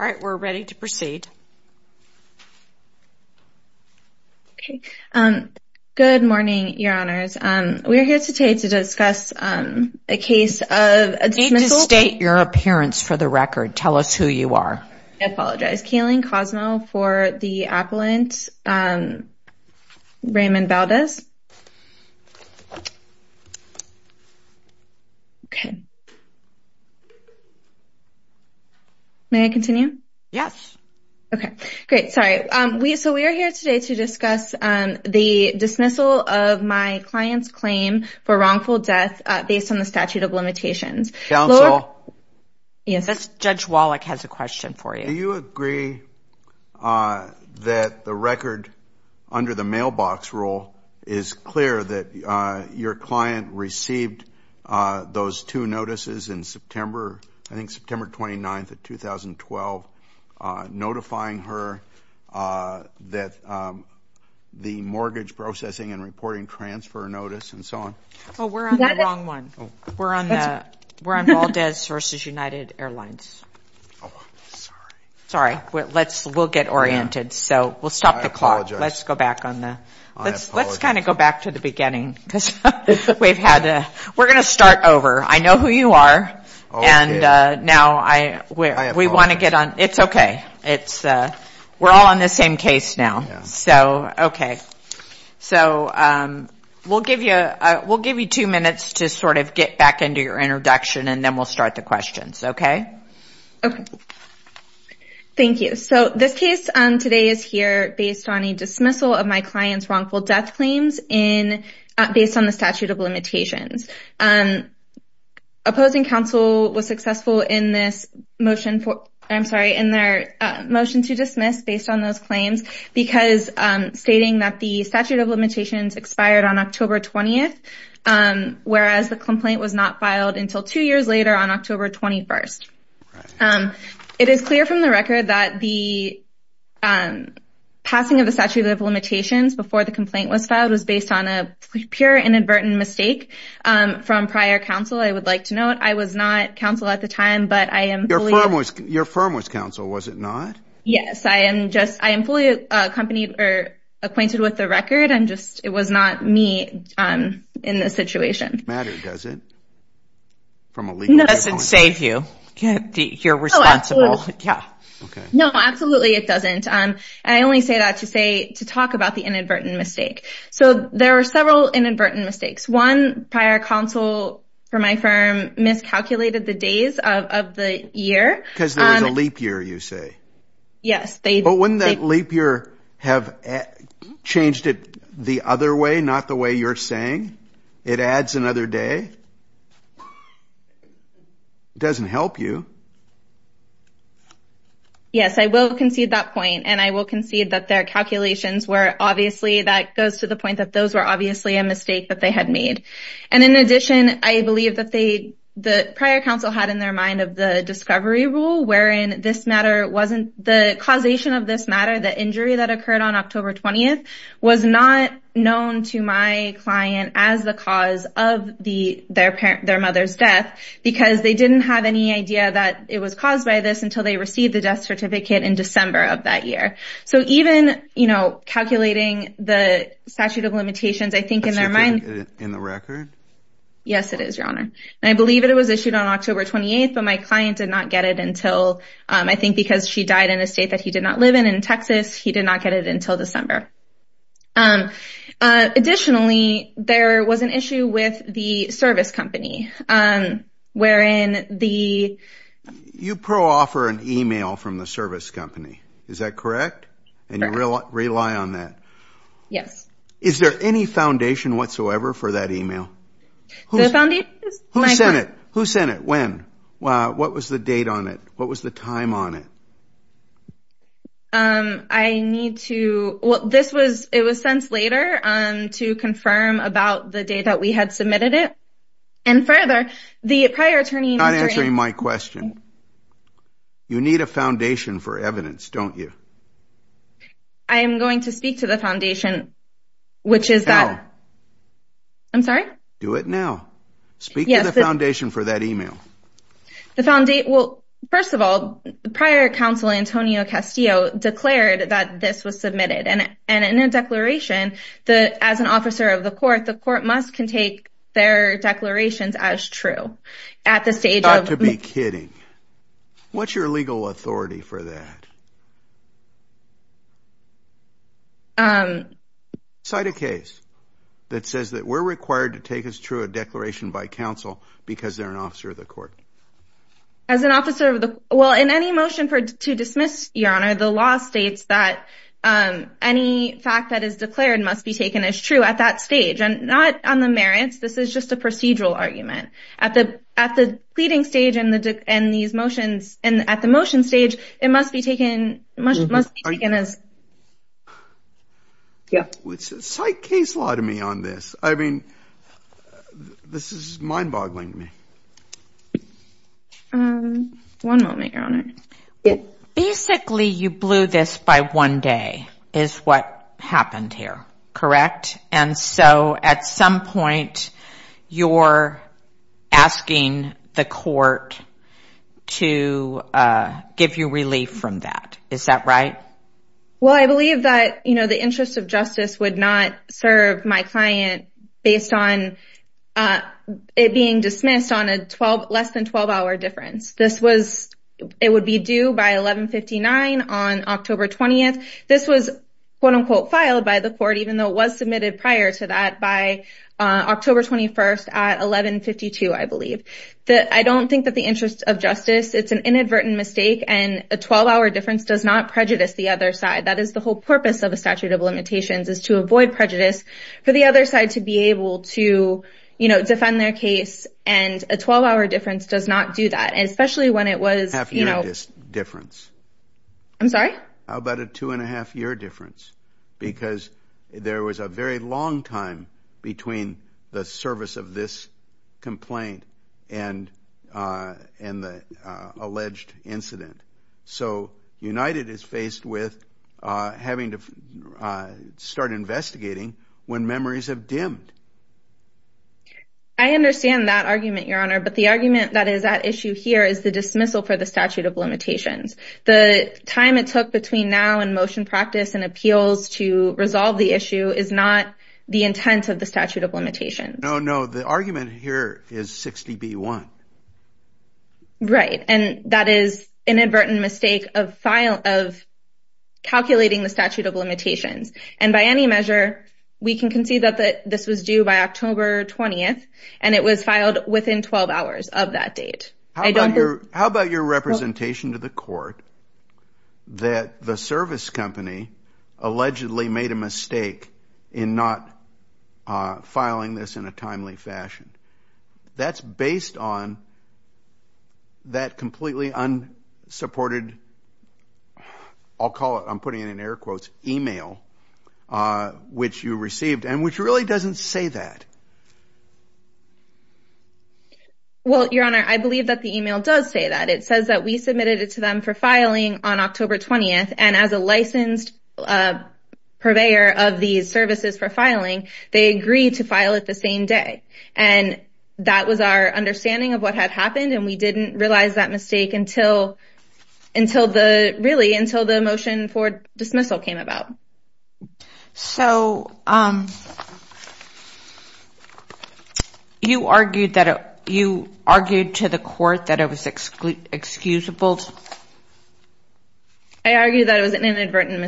All right, we're ready to proceed. Okay, good morning, Your Honors. We're here today to discuss a case of a dismissal... You need to state your appearance for the record. Tell us who you are. I apologize. Kayleen Cosmo for the appellant, Raymond Valdez. Okay. May I continue? Yes. Okay, great. Sorry. So, we are here today to discuss the dismissal of my client's claim for wrongful death based on the statute of limitations. Yes, Judge Wallach has a question for you. Do you agree that the record under the mailbox rule is clear that your client received those two notices in September, I think September 29th of 2012, notifying her that the mortgage processing and reporting transfer notice and so on? Well, we're on the wrong one. We're on Valdez v. United Airlines. Oh, sorry. Sorry. We'll get oriented, so we'll stop the clock. I apologize. Let's go back to the beginning because we're going to start over. I know who you are. And now we want to get on... I apologize. It's okay. We're all on the same case now. Yeah. So, okay. So, we'll give you two minutes to sort of get back into your introduction and then we'll start the questions, okay? Okay. Thank you. So, this case today is here based on a dismissal of my client's wrongful death claims based on the statute of limitations. Opposing counsel was successful in their motion to dismiss based on those claims because stating that the statute of limitations expired on October 20th, whereas the complaint was not filed until two years later on October 21st. It is clear from the record that the passing of the statute of limitations before the complaint was filed was based on a pure inadvertent mistake from prior counsel. I would like to note I was not counsel at the time, but I am fully... Your firm was counsel, was it not? Yes. I am fully acquainted with the record. It was not me in this situation. It doesn't matter, does it, from a legal standpoint? No. It doesn't save you. You're responsible. Okay. No, absolutely it doesn't. I only say that to talk about the inadvertent mistake. So, there are several inadvertent mistakes. One, prior counsel for my firm miscalculated the days of the year. Because there was a leap year, you say? Yes. But wouldn't that leap year have changed it the other way, not the way you're saying? It adds another day? It doesn't help you. Yes, I will concede that point. And I will concede that their calculations were obviously... That goes to the point that those were obviously a mistake that they had made. And in addition, I believe that the prior counsel had in their mind of the discovery rule wherein this matter wasn't... The causation of this matter, the injury that occurred on October 20th, was not known to my client as the cause of their mother's death because they didn't have any idea that it was caused by this until they received the death certificate in December of that year. So, even calculating the statute of limitations, I think in their mind... Is it in the record? Yes, it is, Your Honor. And I believe it was issued on October 28th, but my client did not get it until... I think because she died in a state that he did not live in, in Texas, he did not get it until December. Additionally, there was an issue with the service company. Wherein the... You pro-offer an email from the service company, is that correct? Correct. And you rely on that? Yes. Is there any foundation whatsoever for that email? The foundation is... Who sent it? Who sent it? When? What was the date on it? What was the time on it? I need to... Well, this was... It was sent later to confirm about the date that we had submitted it. And further, the prior attorney... You're not answering my question. You need a foundation for evidence, don't you? I am going to speak to the foundation, which is that... I'm sorry? Do it now. Yes, but... Speak to the foundation for that email. The foundation... Well, first of all, prior counsel Antonio Castillo declared that this was submitted. And in a declaration, as an officer of the court, the court must can take their declarations as true. At the stage of... You've got to be kidding. What's your legal authority for that? Cite a case that says that we're required to take as true a declaration by counsel because they're an officer of the court. As an officer of the... Well, in any motion to dismiss, Your Honor, the law states that any fact that is declared must be taken as true at that stage. And not on the merits. This is just a procedural argument. At the pleading stage and these motions... And at the motion stage, it must be taken as... Cite case law to me on this. I mean, this is mind-boggling to me. One moment, Your Honor. Basically, you blew this by one day is what happened here. Correct? And so, at some point, you're asking the court to give you relief from that. Is that right? Well, I believe that the interest of justice would not serve my client based on it being dismissed on a less than 12-hour difference. This was... It would be due by 1159 on October 20th. This was, quote-unquote, filed by the court even though it was submitted prior to that by October 21st at 1152, I believe. I don't think that the interest of justice... And a 12-hour difference does not prejudice the other side. That is the whole purpose of a statute of limitations is to avoid prejudice for the other side to be able to, you know, defend their case. And a 12-hour difference does not do that, especially when it was, you know... Half-year difference. I'm sorry? How about a two-and-a-half-year difference? Because there was a very long time between the service of this complaint and the alleged incident. So, United is faced with having to start investigating when memories have dimmed. I understand that argument, Your Honor. But the argument that is at issue here is the dismissal for the statute of limitations. The time it took between now and motion practice and appeals to resolve the issue is not the intent of the statute of limitations. No, no. The argument here is 60B1. Right. And that is inadvertent mistake of calculating the statute of limitations. And by any measure, we can concede that this was due by October 20th, and it was filed within 12 hours of that date. How about your representation to the court that the service company allegedly made a mistake in not filing this in a timely fashion? That's based on that completely unsupported, I'll call it, I'm putting it in air quotes, email which you received and which really doesn't say that. Well, Your Honor, I believe that the email does say that. It says that we submitted it to them for filing on October 20th, and as a licensed purveyor of these services for filing, they agreed to file it the same day. And that was our understanding of what had happened, and we didn't realize that mistake until the motion for dismissal came about. So you argued to the court that it was excusable? I argued that it was an inadvertent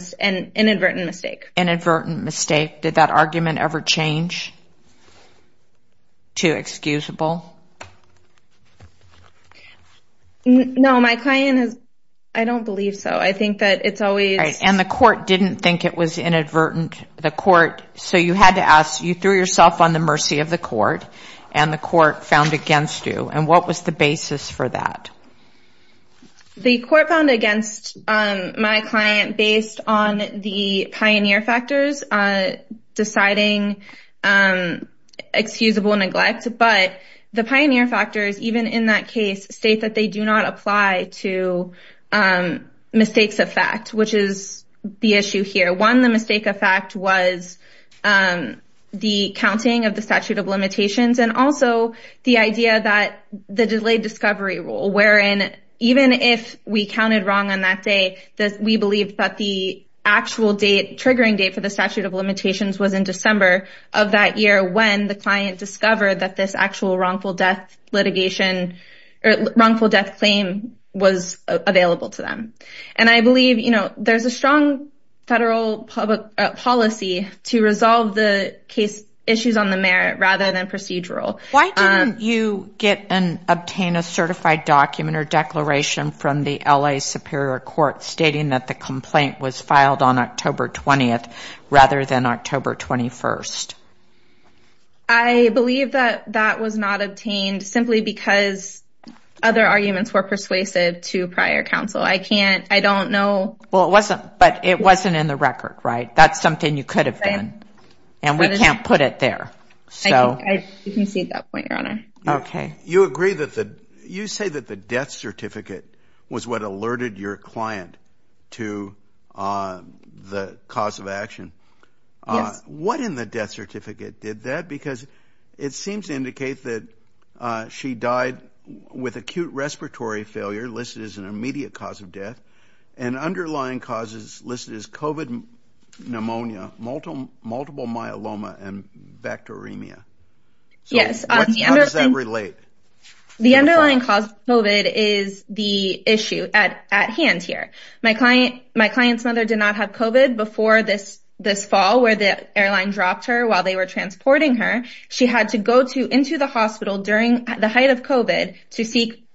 mistake. Inadvertent mistake. Did that argument ever change to excusable? No, my client has, I don't believe so. And the court didn't think it was inadvertent. So you had to ask, you threw yourself on the mercy of the court, and the court found against you. And what was the basis for that? The court found against my client based on the pioneer factors deciding excusable neglect. But the pioneer factors, even in that case, state that they do not apply to mistakes of fact, which is the issue here. One, the mistake of fact was the counting of the statute of limitations and also the idea that the delayed discovery rule, wherein even if we counted wrong on that day, we believe that the actual triggering date for the statute of limitations was in December of that year when the client discovered that this actual wrongful death claim was available to them. And I believe there's a strong federal policy to resolve the case issues on the merit rather than procedural. Why didn't you obtain a certified document or declaration from the L.A. Superior Court stating that the complaint was filed on October 20th rather than October 21st? I believe that that was not obtained simply because other arguments were persuasive to prior counsel. I can't, I don't know. But it wasn't in the record, right? That's something you could have done. And we can't put it there. I can see that point, Your Honor. Okay. You agree that the, you say that the death certificate was what alerted your client to the cause of action. Yes. What in the death certificate did that? Because it seems to indicate that she died with acute respiratory failure listed as an immediate cause of death and underlying causes listed as COVID pneumonia, multiple myeloma, and bacteremia. Yes. How does that relate? The underlying cause of COVID is the issue at hand here. My client's mother did not have COVID before this fall where the airline dropped her while they were transporting her. She had to go into the hospital during the height of COVID to seek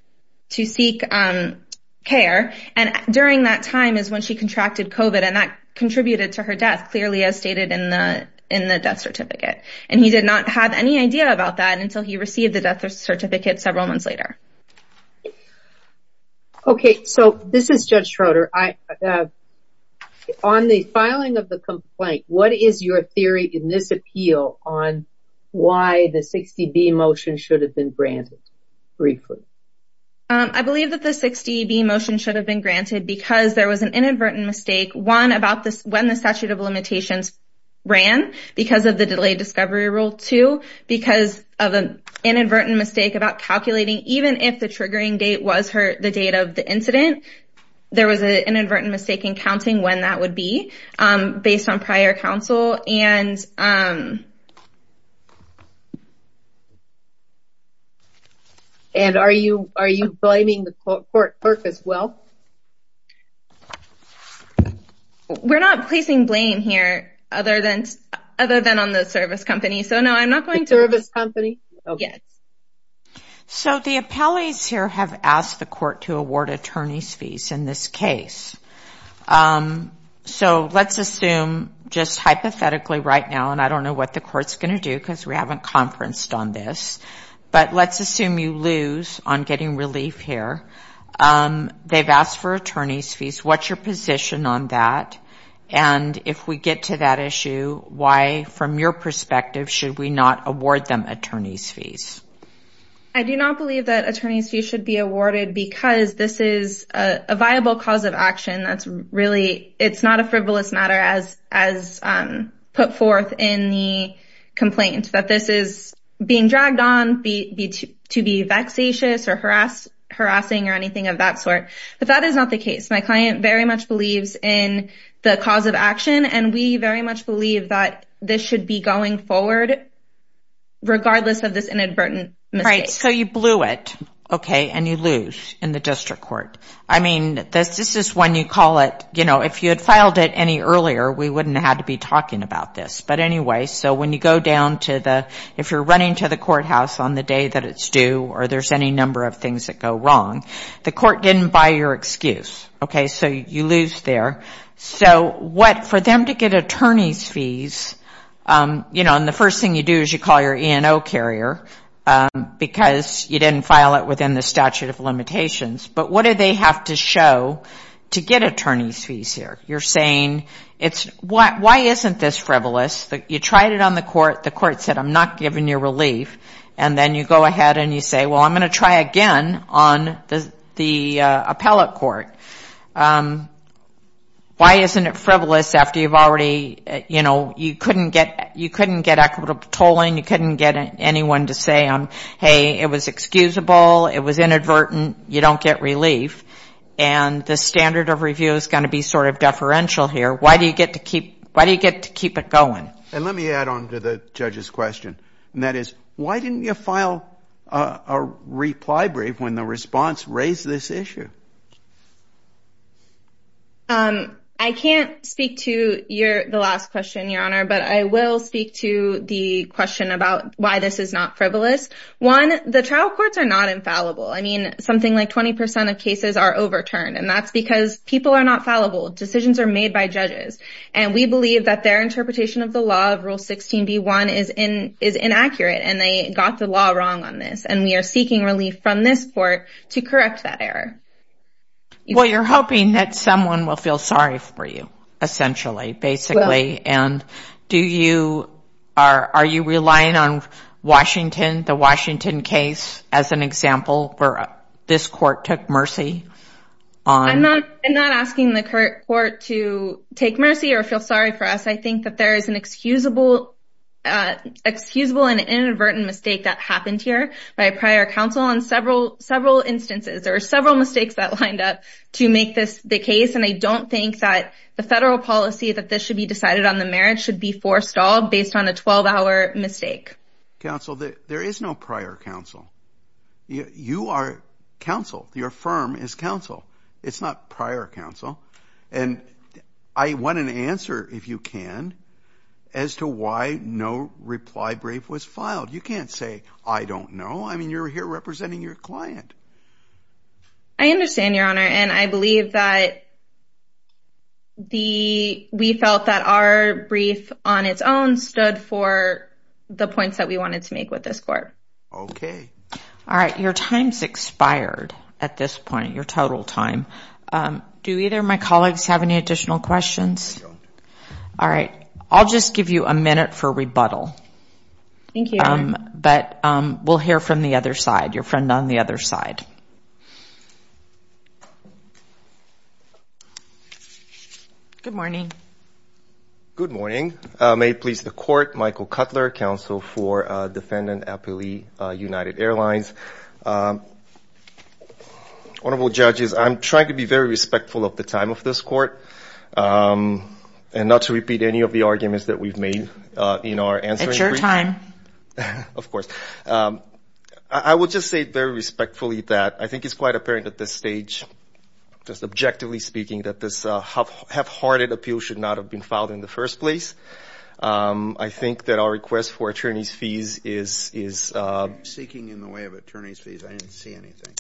care. And during that time is when she contracted COVID. And that contributed to her death, clearly as stated in the death certificate. And he did not have any idea about that until he received the death certificate several months later. Okay. So this is Judge Schroeder. On the filing of the complaint, what is your theory in this appeal on why the 60B motion should have been granted? Briefly. I believe that the 60B motion should have been granted because there was an inadvertent mistake. One, about when the statute of limitations ran because of the delayed discovery rule. Two, because of an inadvertent mistake about calculating even if the triggering date was the date of the incident. There was an inadvertent mistake in counting when that would be based on prior counsel. And are you blaming the court clerk as well? We're not placing blame here other than on the service company. The service company? Yes. So the appellees here have asked the court to award attorney's fees in this case. So let's assume just hypothetically right now, and I don't know what the court's going to do because we haven't conferenced on this. But let's assume you lose on getting relief here. They've asked for attorney's fees. What's your position on that? And if we get to that issue, why, from your perspective, should we not award them attorney's fees? I do not believe that attorney's fees should be awarded because this is a viable cause of action. It's not a frivolous matter as put forth in the complaint, that this is being dragged on to be vexatious or harassing or anything of that sort. But that is not the case. My client very much believes in the cause of action, and we very much believe that this should be going forward regardless of this inadvertent mistake. Right, so you blew it, okay, and you lose in the district court. I mean, this is when you call it, you know, if you had filed it any earlier, we wouldn't have had to be talking about this. But anyway, so when you go down to the – if you're running to the courthouse on the day that it's due or there's any number of things that go wrong, the court didn't buy your excuse, okay, so you lose there. So what – for them to get attorney's fees, you know, and the first thing you do is you call your E&O carrier because you didn't file it within the statute of limitations. But what do they have to show to get attorney's fees here? You're saying it's – why isn't this frivolous? You tried it on the court. The court said, I'm not giving you relief. And then you go ahead and you say, well, I'm going to try again on the appellate court. Why isn't it frivolous after you've already – you know, you couldn't get equitable tolling. You couldn't get anyone to say, hey, it was excusable, it was inadvertent, you don't get relief. And the standard of review is going to be sort of deferential here. Why do you get to keep it going? And let me add on to the judge's question, and that is, why didn't you file a reply brief when the response raised this issue? I can't speak to the last question, Your Honor, but I will speak to the question about why this is not frivolous. One, the trial courts are not infallible. I mean, something like 20 percent of cases are overturned, and that's because people are not fallible. Decisions are made by judges. And we believe that their interpretation of the law of Rule 16b-1 is inaccurate, and they got the law wrong on this. And we are seeking relief from this court to correct that error. Well, you're hoping that someone will feel sorry for you, essentially, basically. And do you – are you relying on Washington, the Washington case, as an example, where this court took mercy on – I'm not asking the court to take mercy or feel sorry for us. I think that there is an excusable and inadvertent mistake that happened here by a prior counsel on several instances. There are several mistakes that lined up to make this the case, and I don't think that the federal policy that this should be decided on the merits should be forestalled based on a 12-hour mistake. Counsel, there is no prior counsel. You are counsel. Your firm is counsel. It's not prior counsel. And I want an answer, if you can, as to why no reply brief was filed. You can't say, I don't know. I mean, you're here representing your client. I understand, Your Honor, and I believe that the – we felt that our brief on its own stood for the points that we wanted to make with this court. Okay. All right. Your time's expired at this point, your total time. Do either of my colleagues have any additional questions? No. All right. I'll just give you a minute for rebuttal. Thank you, Your Honor. But we'll hear from the other side, your friend on the other side. Good morning. Good morning. May it please the Court, Michael Cutler, Counsel for Defendant Appellee United Airlines. Honorable Judges, I'm trying to be very respectful of the time of this court and not to repeat any of the arguments that we've made in our answering brief. It's your time. Of course. I will just say very respectfully that I think it's quite apparent at this stage, just objectively speaking, that this half-hearted appeal should not have been filed in the first place. I think that our request for attorney's fees is – You're seeking in the way of attorney's fees. I didn't see anything.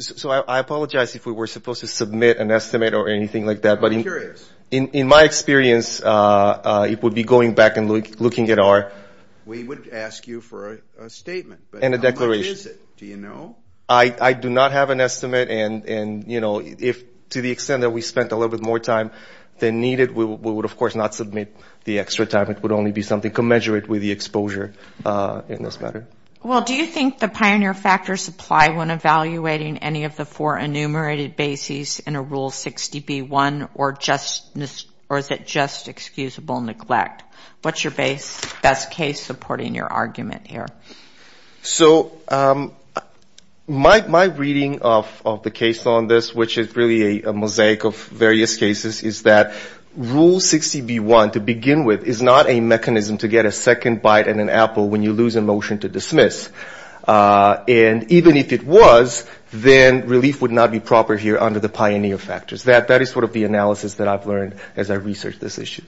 So I apologize if we were supposed to submit an estimate or anything like that. I'm curious. In my experience, it would be going back and looking at our – We would ask you for a statement. And a declaration. How much is it? Do you know? I do not have an estimate. And, you know, to the extent that we spent a little bit more time than needed, we would, of course, not submit the extra time. It would only be something commensurate with the exposure in this matter. Well, do you think the pioneer factors apply when evaluating any of the four enumerated bases in a Rule 60B1 or is it just excusable neglect? What's your best case supporting your argument here? So my reading of the case on this, which is really a mosaic of various cases, is that Rule 60B1 to begin with is not a mechanism to get a second bite in an apple when you lose a motion to dismiss. And even if it was, then relief would not be proper here under the pioneer factors. That is sort of the analysis that I've learned as I research this issue.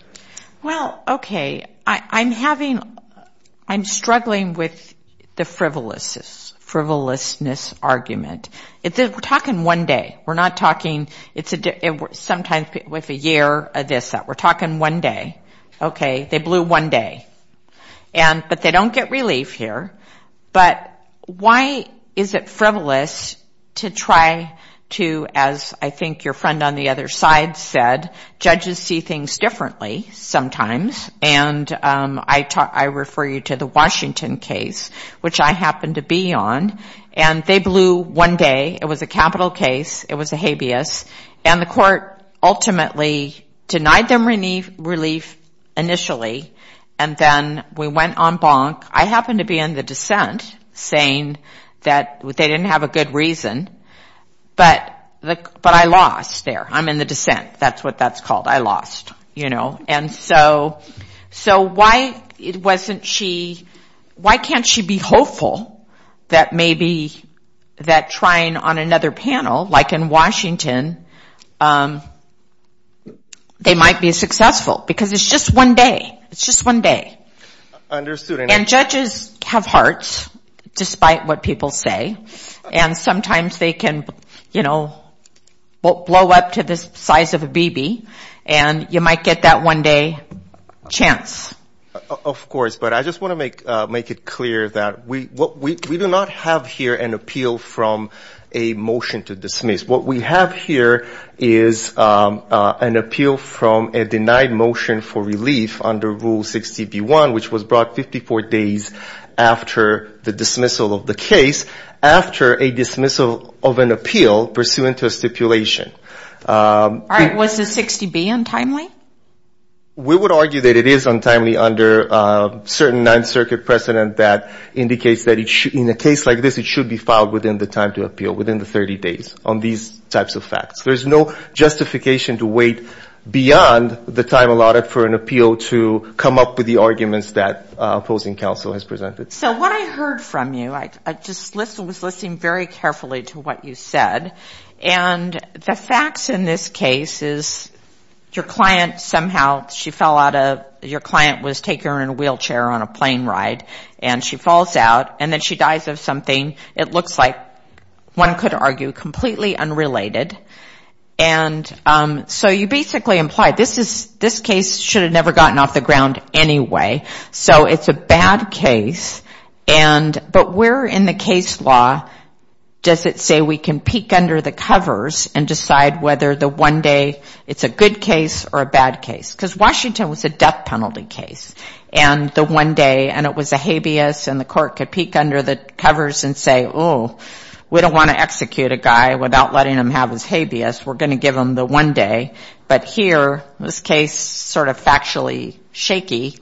Well, okay. I'm struggling with the frivolousness argument. We're talking one day. We're not talking sometimes with a year of this, that. We're talking one day. Okay. They blew one day. But they don't get relief here. But why is it frivolous to try to, as I think your friend on the other side said, judges see things differently sometimes. And I refer you to the Washington case, which I happened to be on. And they blew one day. It was a capital case. It was a habeas. And the court ultimately denied them relief initially. And then we went on bonk. I happened to be in the dissent saying that they didn't have a good reason. But I lost there. I'm in the dissent. That's what that's called. I lost, you know. And so why can't she be hopeful that maybe that trying on another panel, like in Washington, they might be successful? Because it's just one day. It's just one day. And judges have hearts, despite what people say. And sometimes they can, you know, blow up to the size of a BB. And you might get that one-day chance. Of course. But I just want to make it clear that we do not have here an appeal from a motion to dismiss. What we have here is an appeal from a denied motion for relief under Rule 60B1, which was brought 54 days after the dismissal of the case, after a dismissal of an appeal pursuant to a stipulation. All right. Was the 60B untimely? We would argue that it is untimely under certain Ninth Circuit precedent that indicates that in a case like this, it should be filed within the time to appeal, within the 30 days on these types of facts. There's no justification to wait beyond the time allotted for an appeal to come up with the arguments that opposing counsel has presented. So what I heard from you, I just was listening very carefully to what you said, and the facts in this case is your client somehow, she fell out of, your client was taking her in a wheelchair on a plane ride, and she falls out, and then she dies of something, it looks like, one could argue, completely unrelated. And so you basically imply this case should have never gotten off the ground anyway. So it's a bad case, but where in the case law does it say we can peek under the covers and decide whether the one day it's a good case or a bad case? Because Washington was a death penalty case. And the one day, and it was a habeas, and the court could peek under the covers and say, oh, we don't want to execute a guy without letting him have his habeas, we're going to give him the one day. But here, this case sort of factually shaky,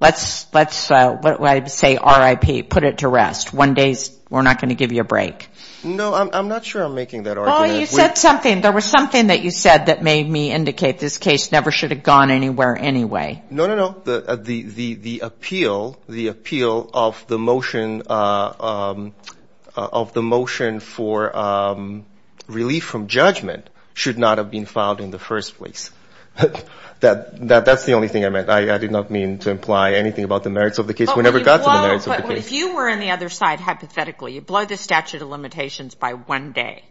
let's say RIP, put it to rest. One day we're not going to give you a break. No, I'm not sure I'm making that argument. You said something, there was something that you said that made me indicate this case never should have gone anywhere anyway. No, no, no, the appeal of the motion for relief from judgment should not have been filed in the first place. That's the only thing I meant. I did not mean to imply anything about the merits of the case. Well, if you were in the other side hypothetically, you blow the statute of limitations by one day,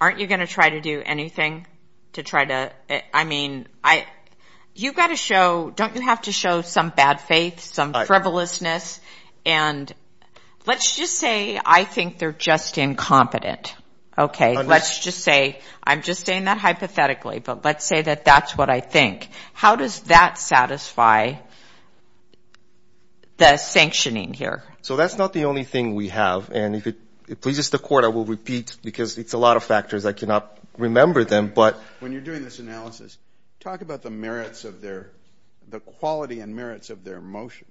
aren't you going to try to do anything to try to, I mean, you've got to show, don't you have to show some bad faith, some frivolousness? And let's just say I think they're just incompetent, okay? Let's just say, I'm just saying that hypothetically, but let's say that that's what I think. How does that satisfy the sanctioning here? So that's not the only thing we have, and if it pleases the Court, I will repeat, because it's a lot of factors, I cannot remember them, but... When you're doing this analysis, talk about the merits of their, the quality and merits of their motion.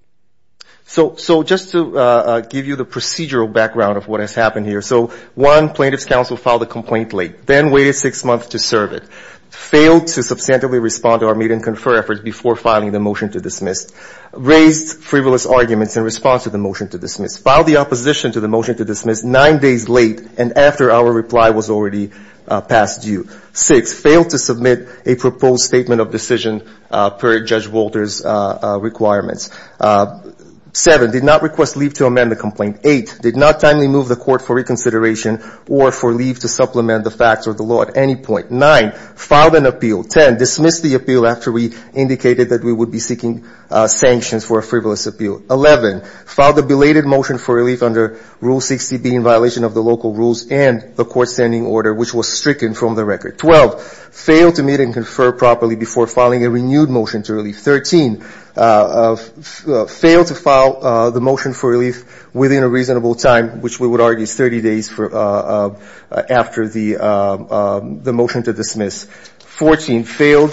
So just to give you the procedural background of what has happened here, so one plaintiff's counsel filed a complaint late, then waited six months to serve it, failed to substantively respond to our made and confer efforts before filing the motion to dismiss, raised frivolous arguments in response to the motion to dismiss, filed the opposition to the motion to dismiss nine days late, and after our reply was already past due. Six, failed to submit a proposed statement of decision per Judge Walter's requirements. Seven, did not request leave to amend the complaint. Eight, did not timely move the Court for reconsideration or for leave to supplement the facts or the law at any point. Nine, filed an appeal. Ten, dismissed the appeal after we indicated that we would be seeking sanctions for a frivolous appeal. Eleven, filed a belated motion for relief under Rule 60B in violation of the local rules and the court's standing order, which was stricken from the record. Twelve, failed to meet and confer properly before filing a renewed motion to relief. Thirteen, failed to file the motion for relief within a reasonable time, which we would argue is 30 days after the motion to dismiss. Fourteen, failed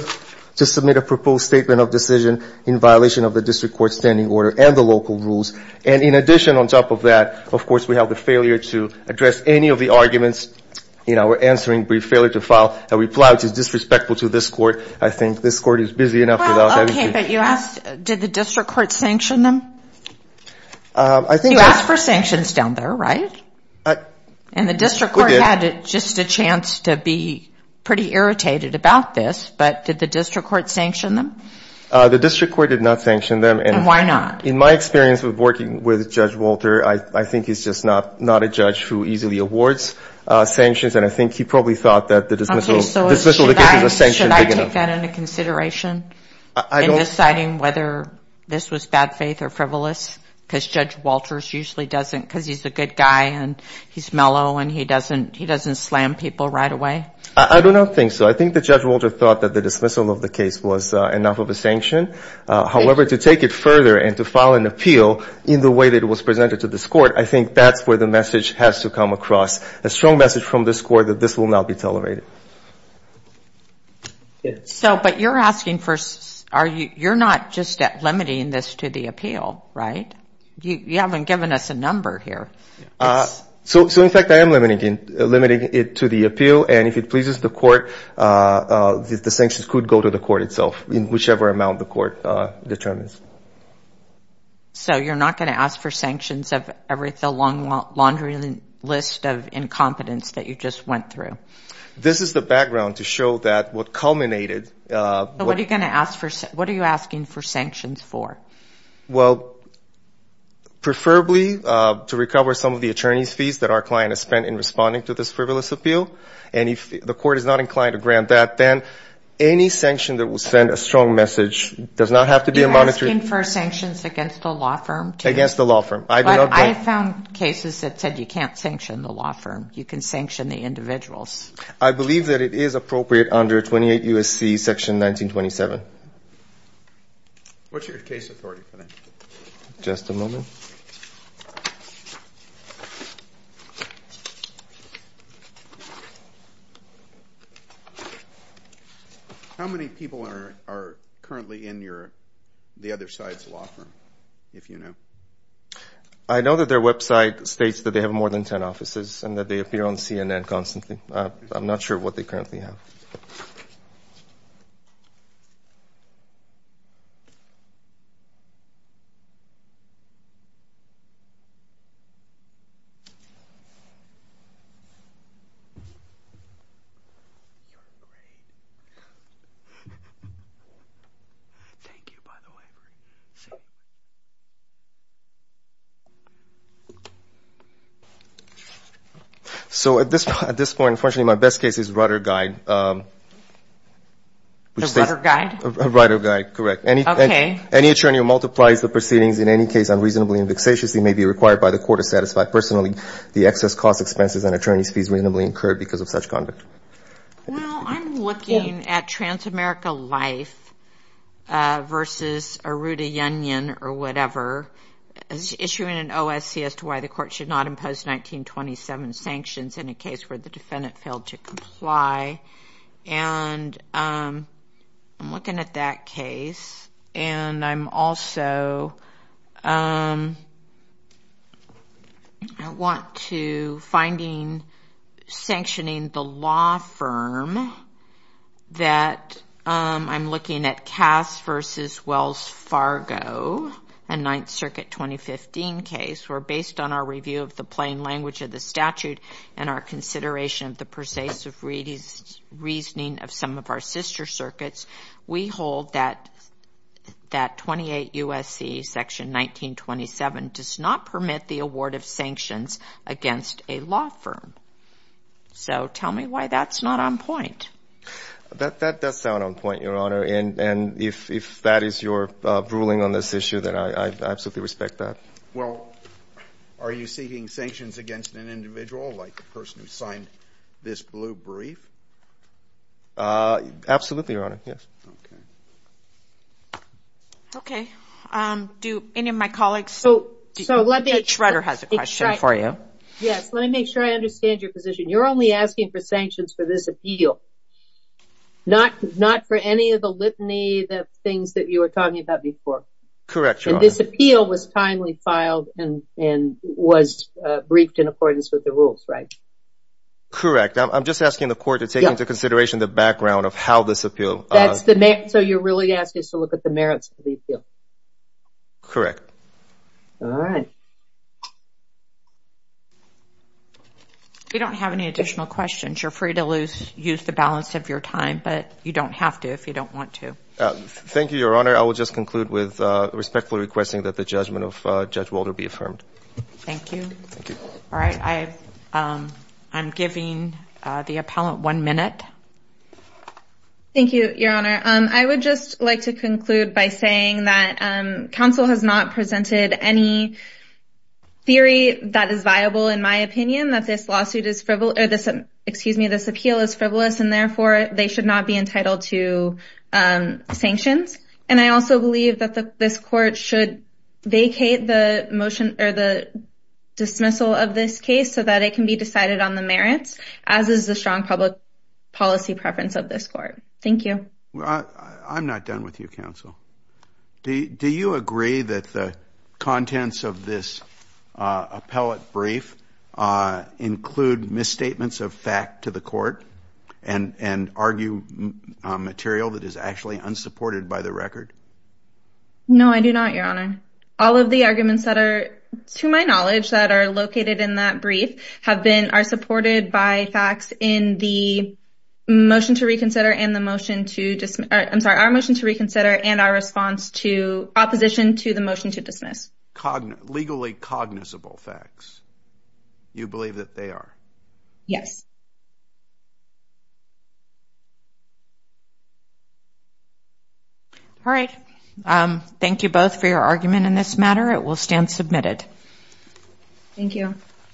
to submit a proposed statement of decision in violation of the district court's standing order and the local rules. And in addition, on top of that, of course, we have the failure to address any of the arguments in our answering brief failure to file a reply, which is disrespectful to this Court. I think this Court is busy enough without having to do that. But you asked, did the district court sanction them? You asked for sanctions down there, right? And the district court had just a chance to be pretty irritated about this, but did the district court sanction them? The district court did not sanction them. And why not? In my experience with working with Judge Walter, I think he's just not a judge who easily awards sanctions, and I think he probably thought that the dismissal of the case was a sanction big enough. Okay, so should I take that into consideration in deciding whether this was bad faith or frivolous? Because Judge Walters usually doesn't, because he's a good guy and he's mellow and he doesn't slam people right away? I do not think so. I think that Judge Walter thought that the dismissal of the case was enough of a sanction. However, to take it further and to file an appeal in the way that it was presented to this Court, I think that's where the message has to come across. A strong message from this Court that this will not be tolerated. So, but you're asking for, you're not just limiting this to the appeal, right? You haven't given us a number here. So, in fact, I am limiting it to the appeal, and if it pleases the Court, the sanctions could go to the Court itself, in whichever amount the Court determines. So you're not going to ask for sanctions of the laundry list of incompetence that you just went through? This is the background to show that what culminated... So what are you going to ask for, what are you asking for sanctions for? Well, preferably to recover some of the attorney's fees that our client has spent in responding to this frivolous appeal. And if the Court is not inclined to grant that, then any sanction that will send a strong message does not have to be a monetary... You're asking for sanctions against the law firm? Against the law firm. But I found cases that said you can't sanction the law firm, you can sanction the individuals. I believe that it is appropriate under 28 U.S.C. Section 1927. What's your case authority for that? Just a moment. How many people are currently in the other side's law firm, if you know? I know that their website states that they have more than 10 offices and that they appear on CNN constantly. I'm not sure what they currently have. You're great. Thank you, by the way. So at this point, unfortunately, my best case is Rudder Guide. The Rudder Guide? Rudder Guide, correct. Well, I'm looking at Transamerica Life versus Arruda Yunion or whatever. Issuing an OSC as to why the Court should not impose 1927 sanctions in a case where the defendant failed to comply. And I'm looking at that case and I'm also, I want to finding sanctioning the law firm that I'm looking at Cass versus Wells Fargo, a Ninth Circuit 2015 case where based on our review of the plain language of the statute and our consideration of the persuasive reasoning of some of our sister circuits, we hold that 28 U.S.C. section 1927 does not permit the award of sanctions against a law firm. So tell me why that's not on point. That does sound on point, Your Honor, and if that is your ruling on this issue, then I absolutely respect that. Well, are you seeking sanctions against an individual like the person who signed this blue brief? Absolutely, Your Honor, yes. Okay. Do any of my colleagues? Yes, let me make sure I understand your position. You're only asking for sanctions for this appeal, not for any of the litany of things that you were talking about before. Correct, Your Honor. And this appeal was timely filed and was briefed in accordance with the rules, right? Correct. I'm just asking the court to take into consideration the background of how this appeal. So you're really asking us to look at the merits of the appeal? Correct. All right. If you don't have any additional questions, you're free to use the balance of your time, but you don't have to if you don't want to. Thank you, Your Honor. I will just conclude with respectfully requesting that the judgment of Judge Walter be affirmed. Thank you. All right. I'm giving the appellant one minute. Thank you, Your Honor. I would just like to conclude by saying that counsel has not presented any theory that is viable in my opinion that this appeal is frivolous, and therefore they should not be entitled to sanctions. And I also believe that this court should vacate the dismissal of this case so that it can be decided on the merits, as is the strong public policy. Thank you. I'm not done with you, counsel. Do you agree that the contents of this appellate brief include misstatements of fact to the court and argue material that is actually unsupported by the record? No, I do not, Your Honor. All of the arguments that are, to my knowledge, that are located in that brief are supported by facts in the motion to reconsider and our response to opposition to the motion to dismiss. Legally cognizable facts, you believe that they are? Yes. All right. Thank you both for your argument in this matter. It will stand submitted.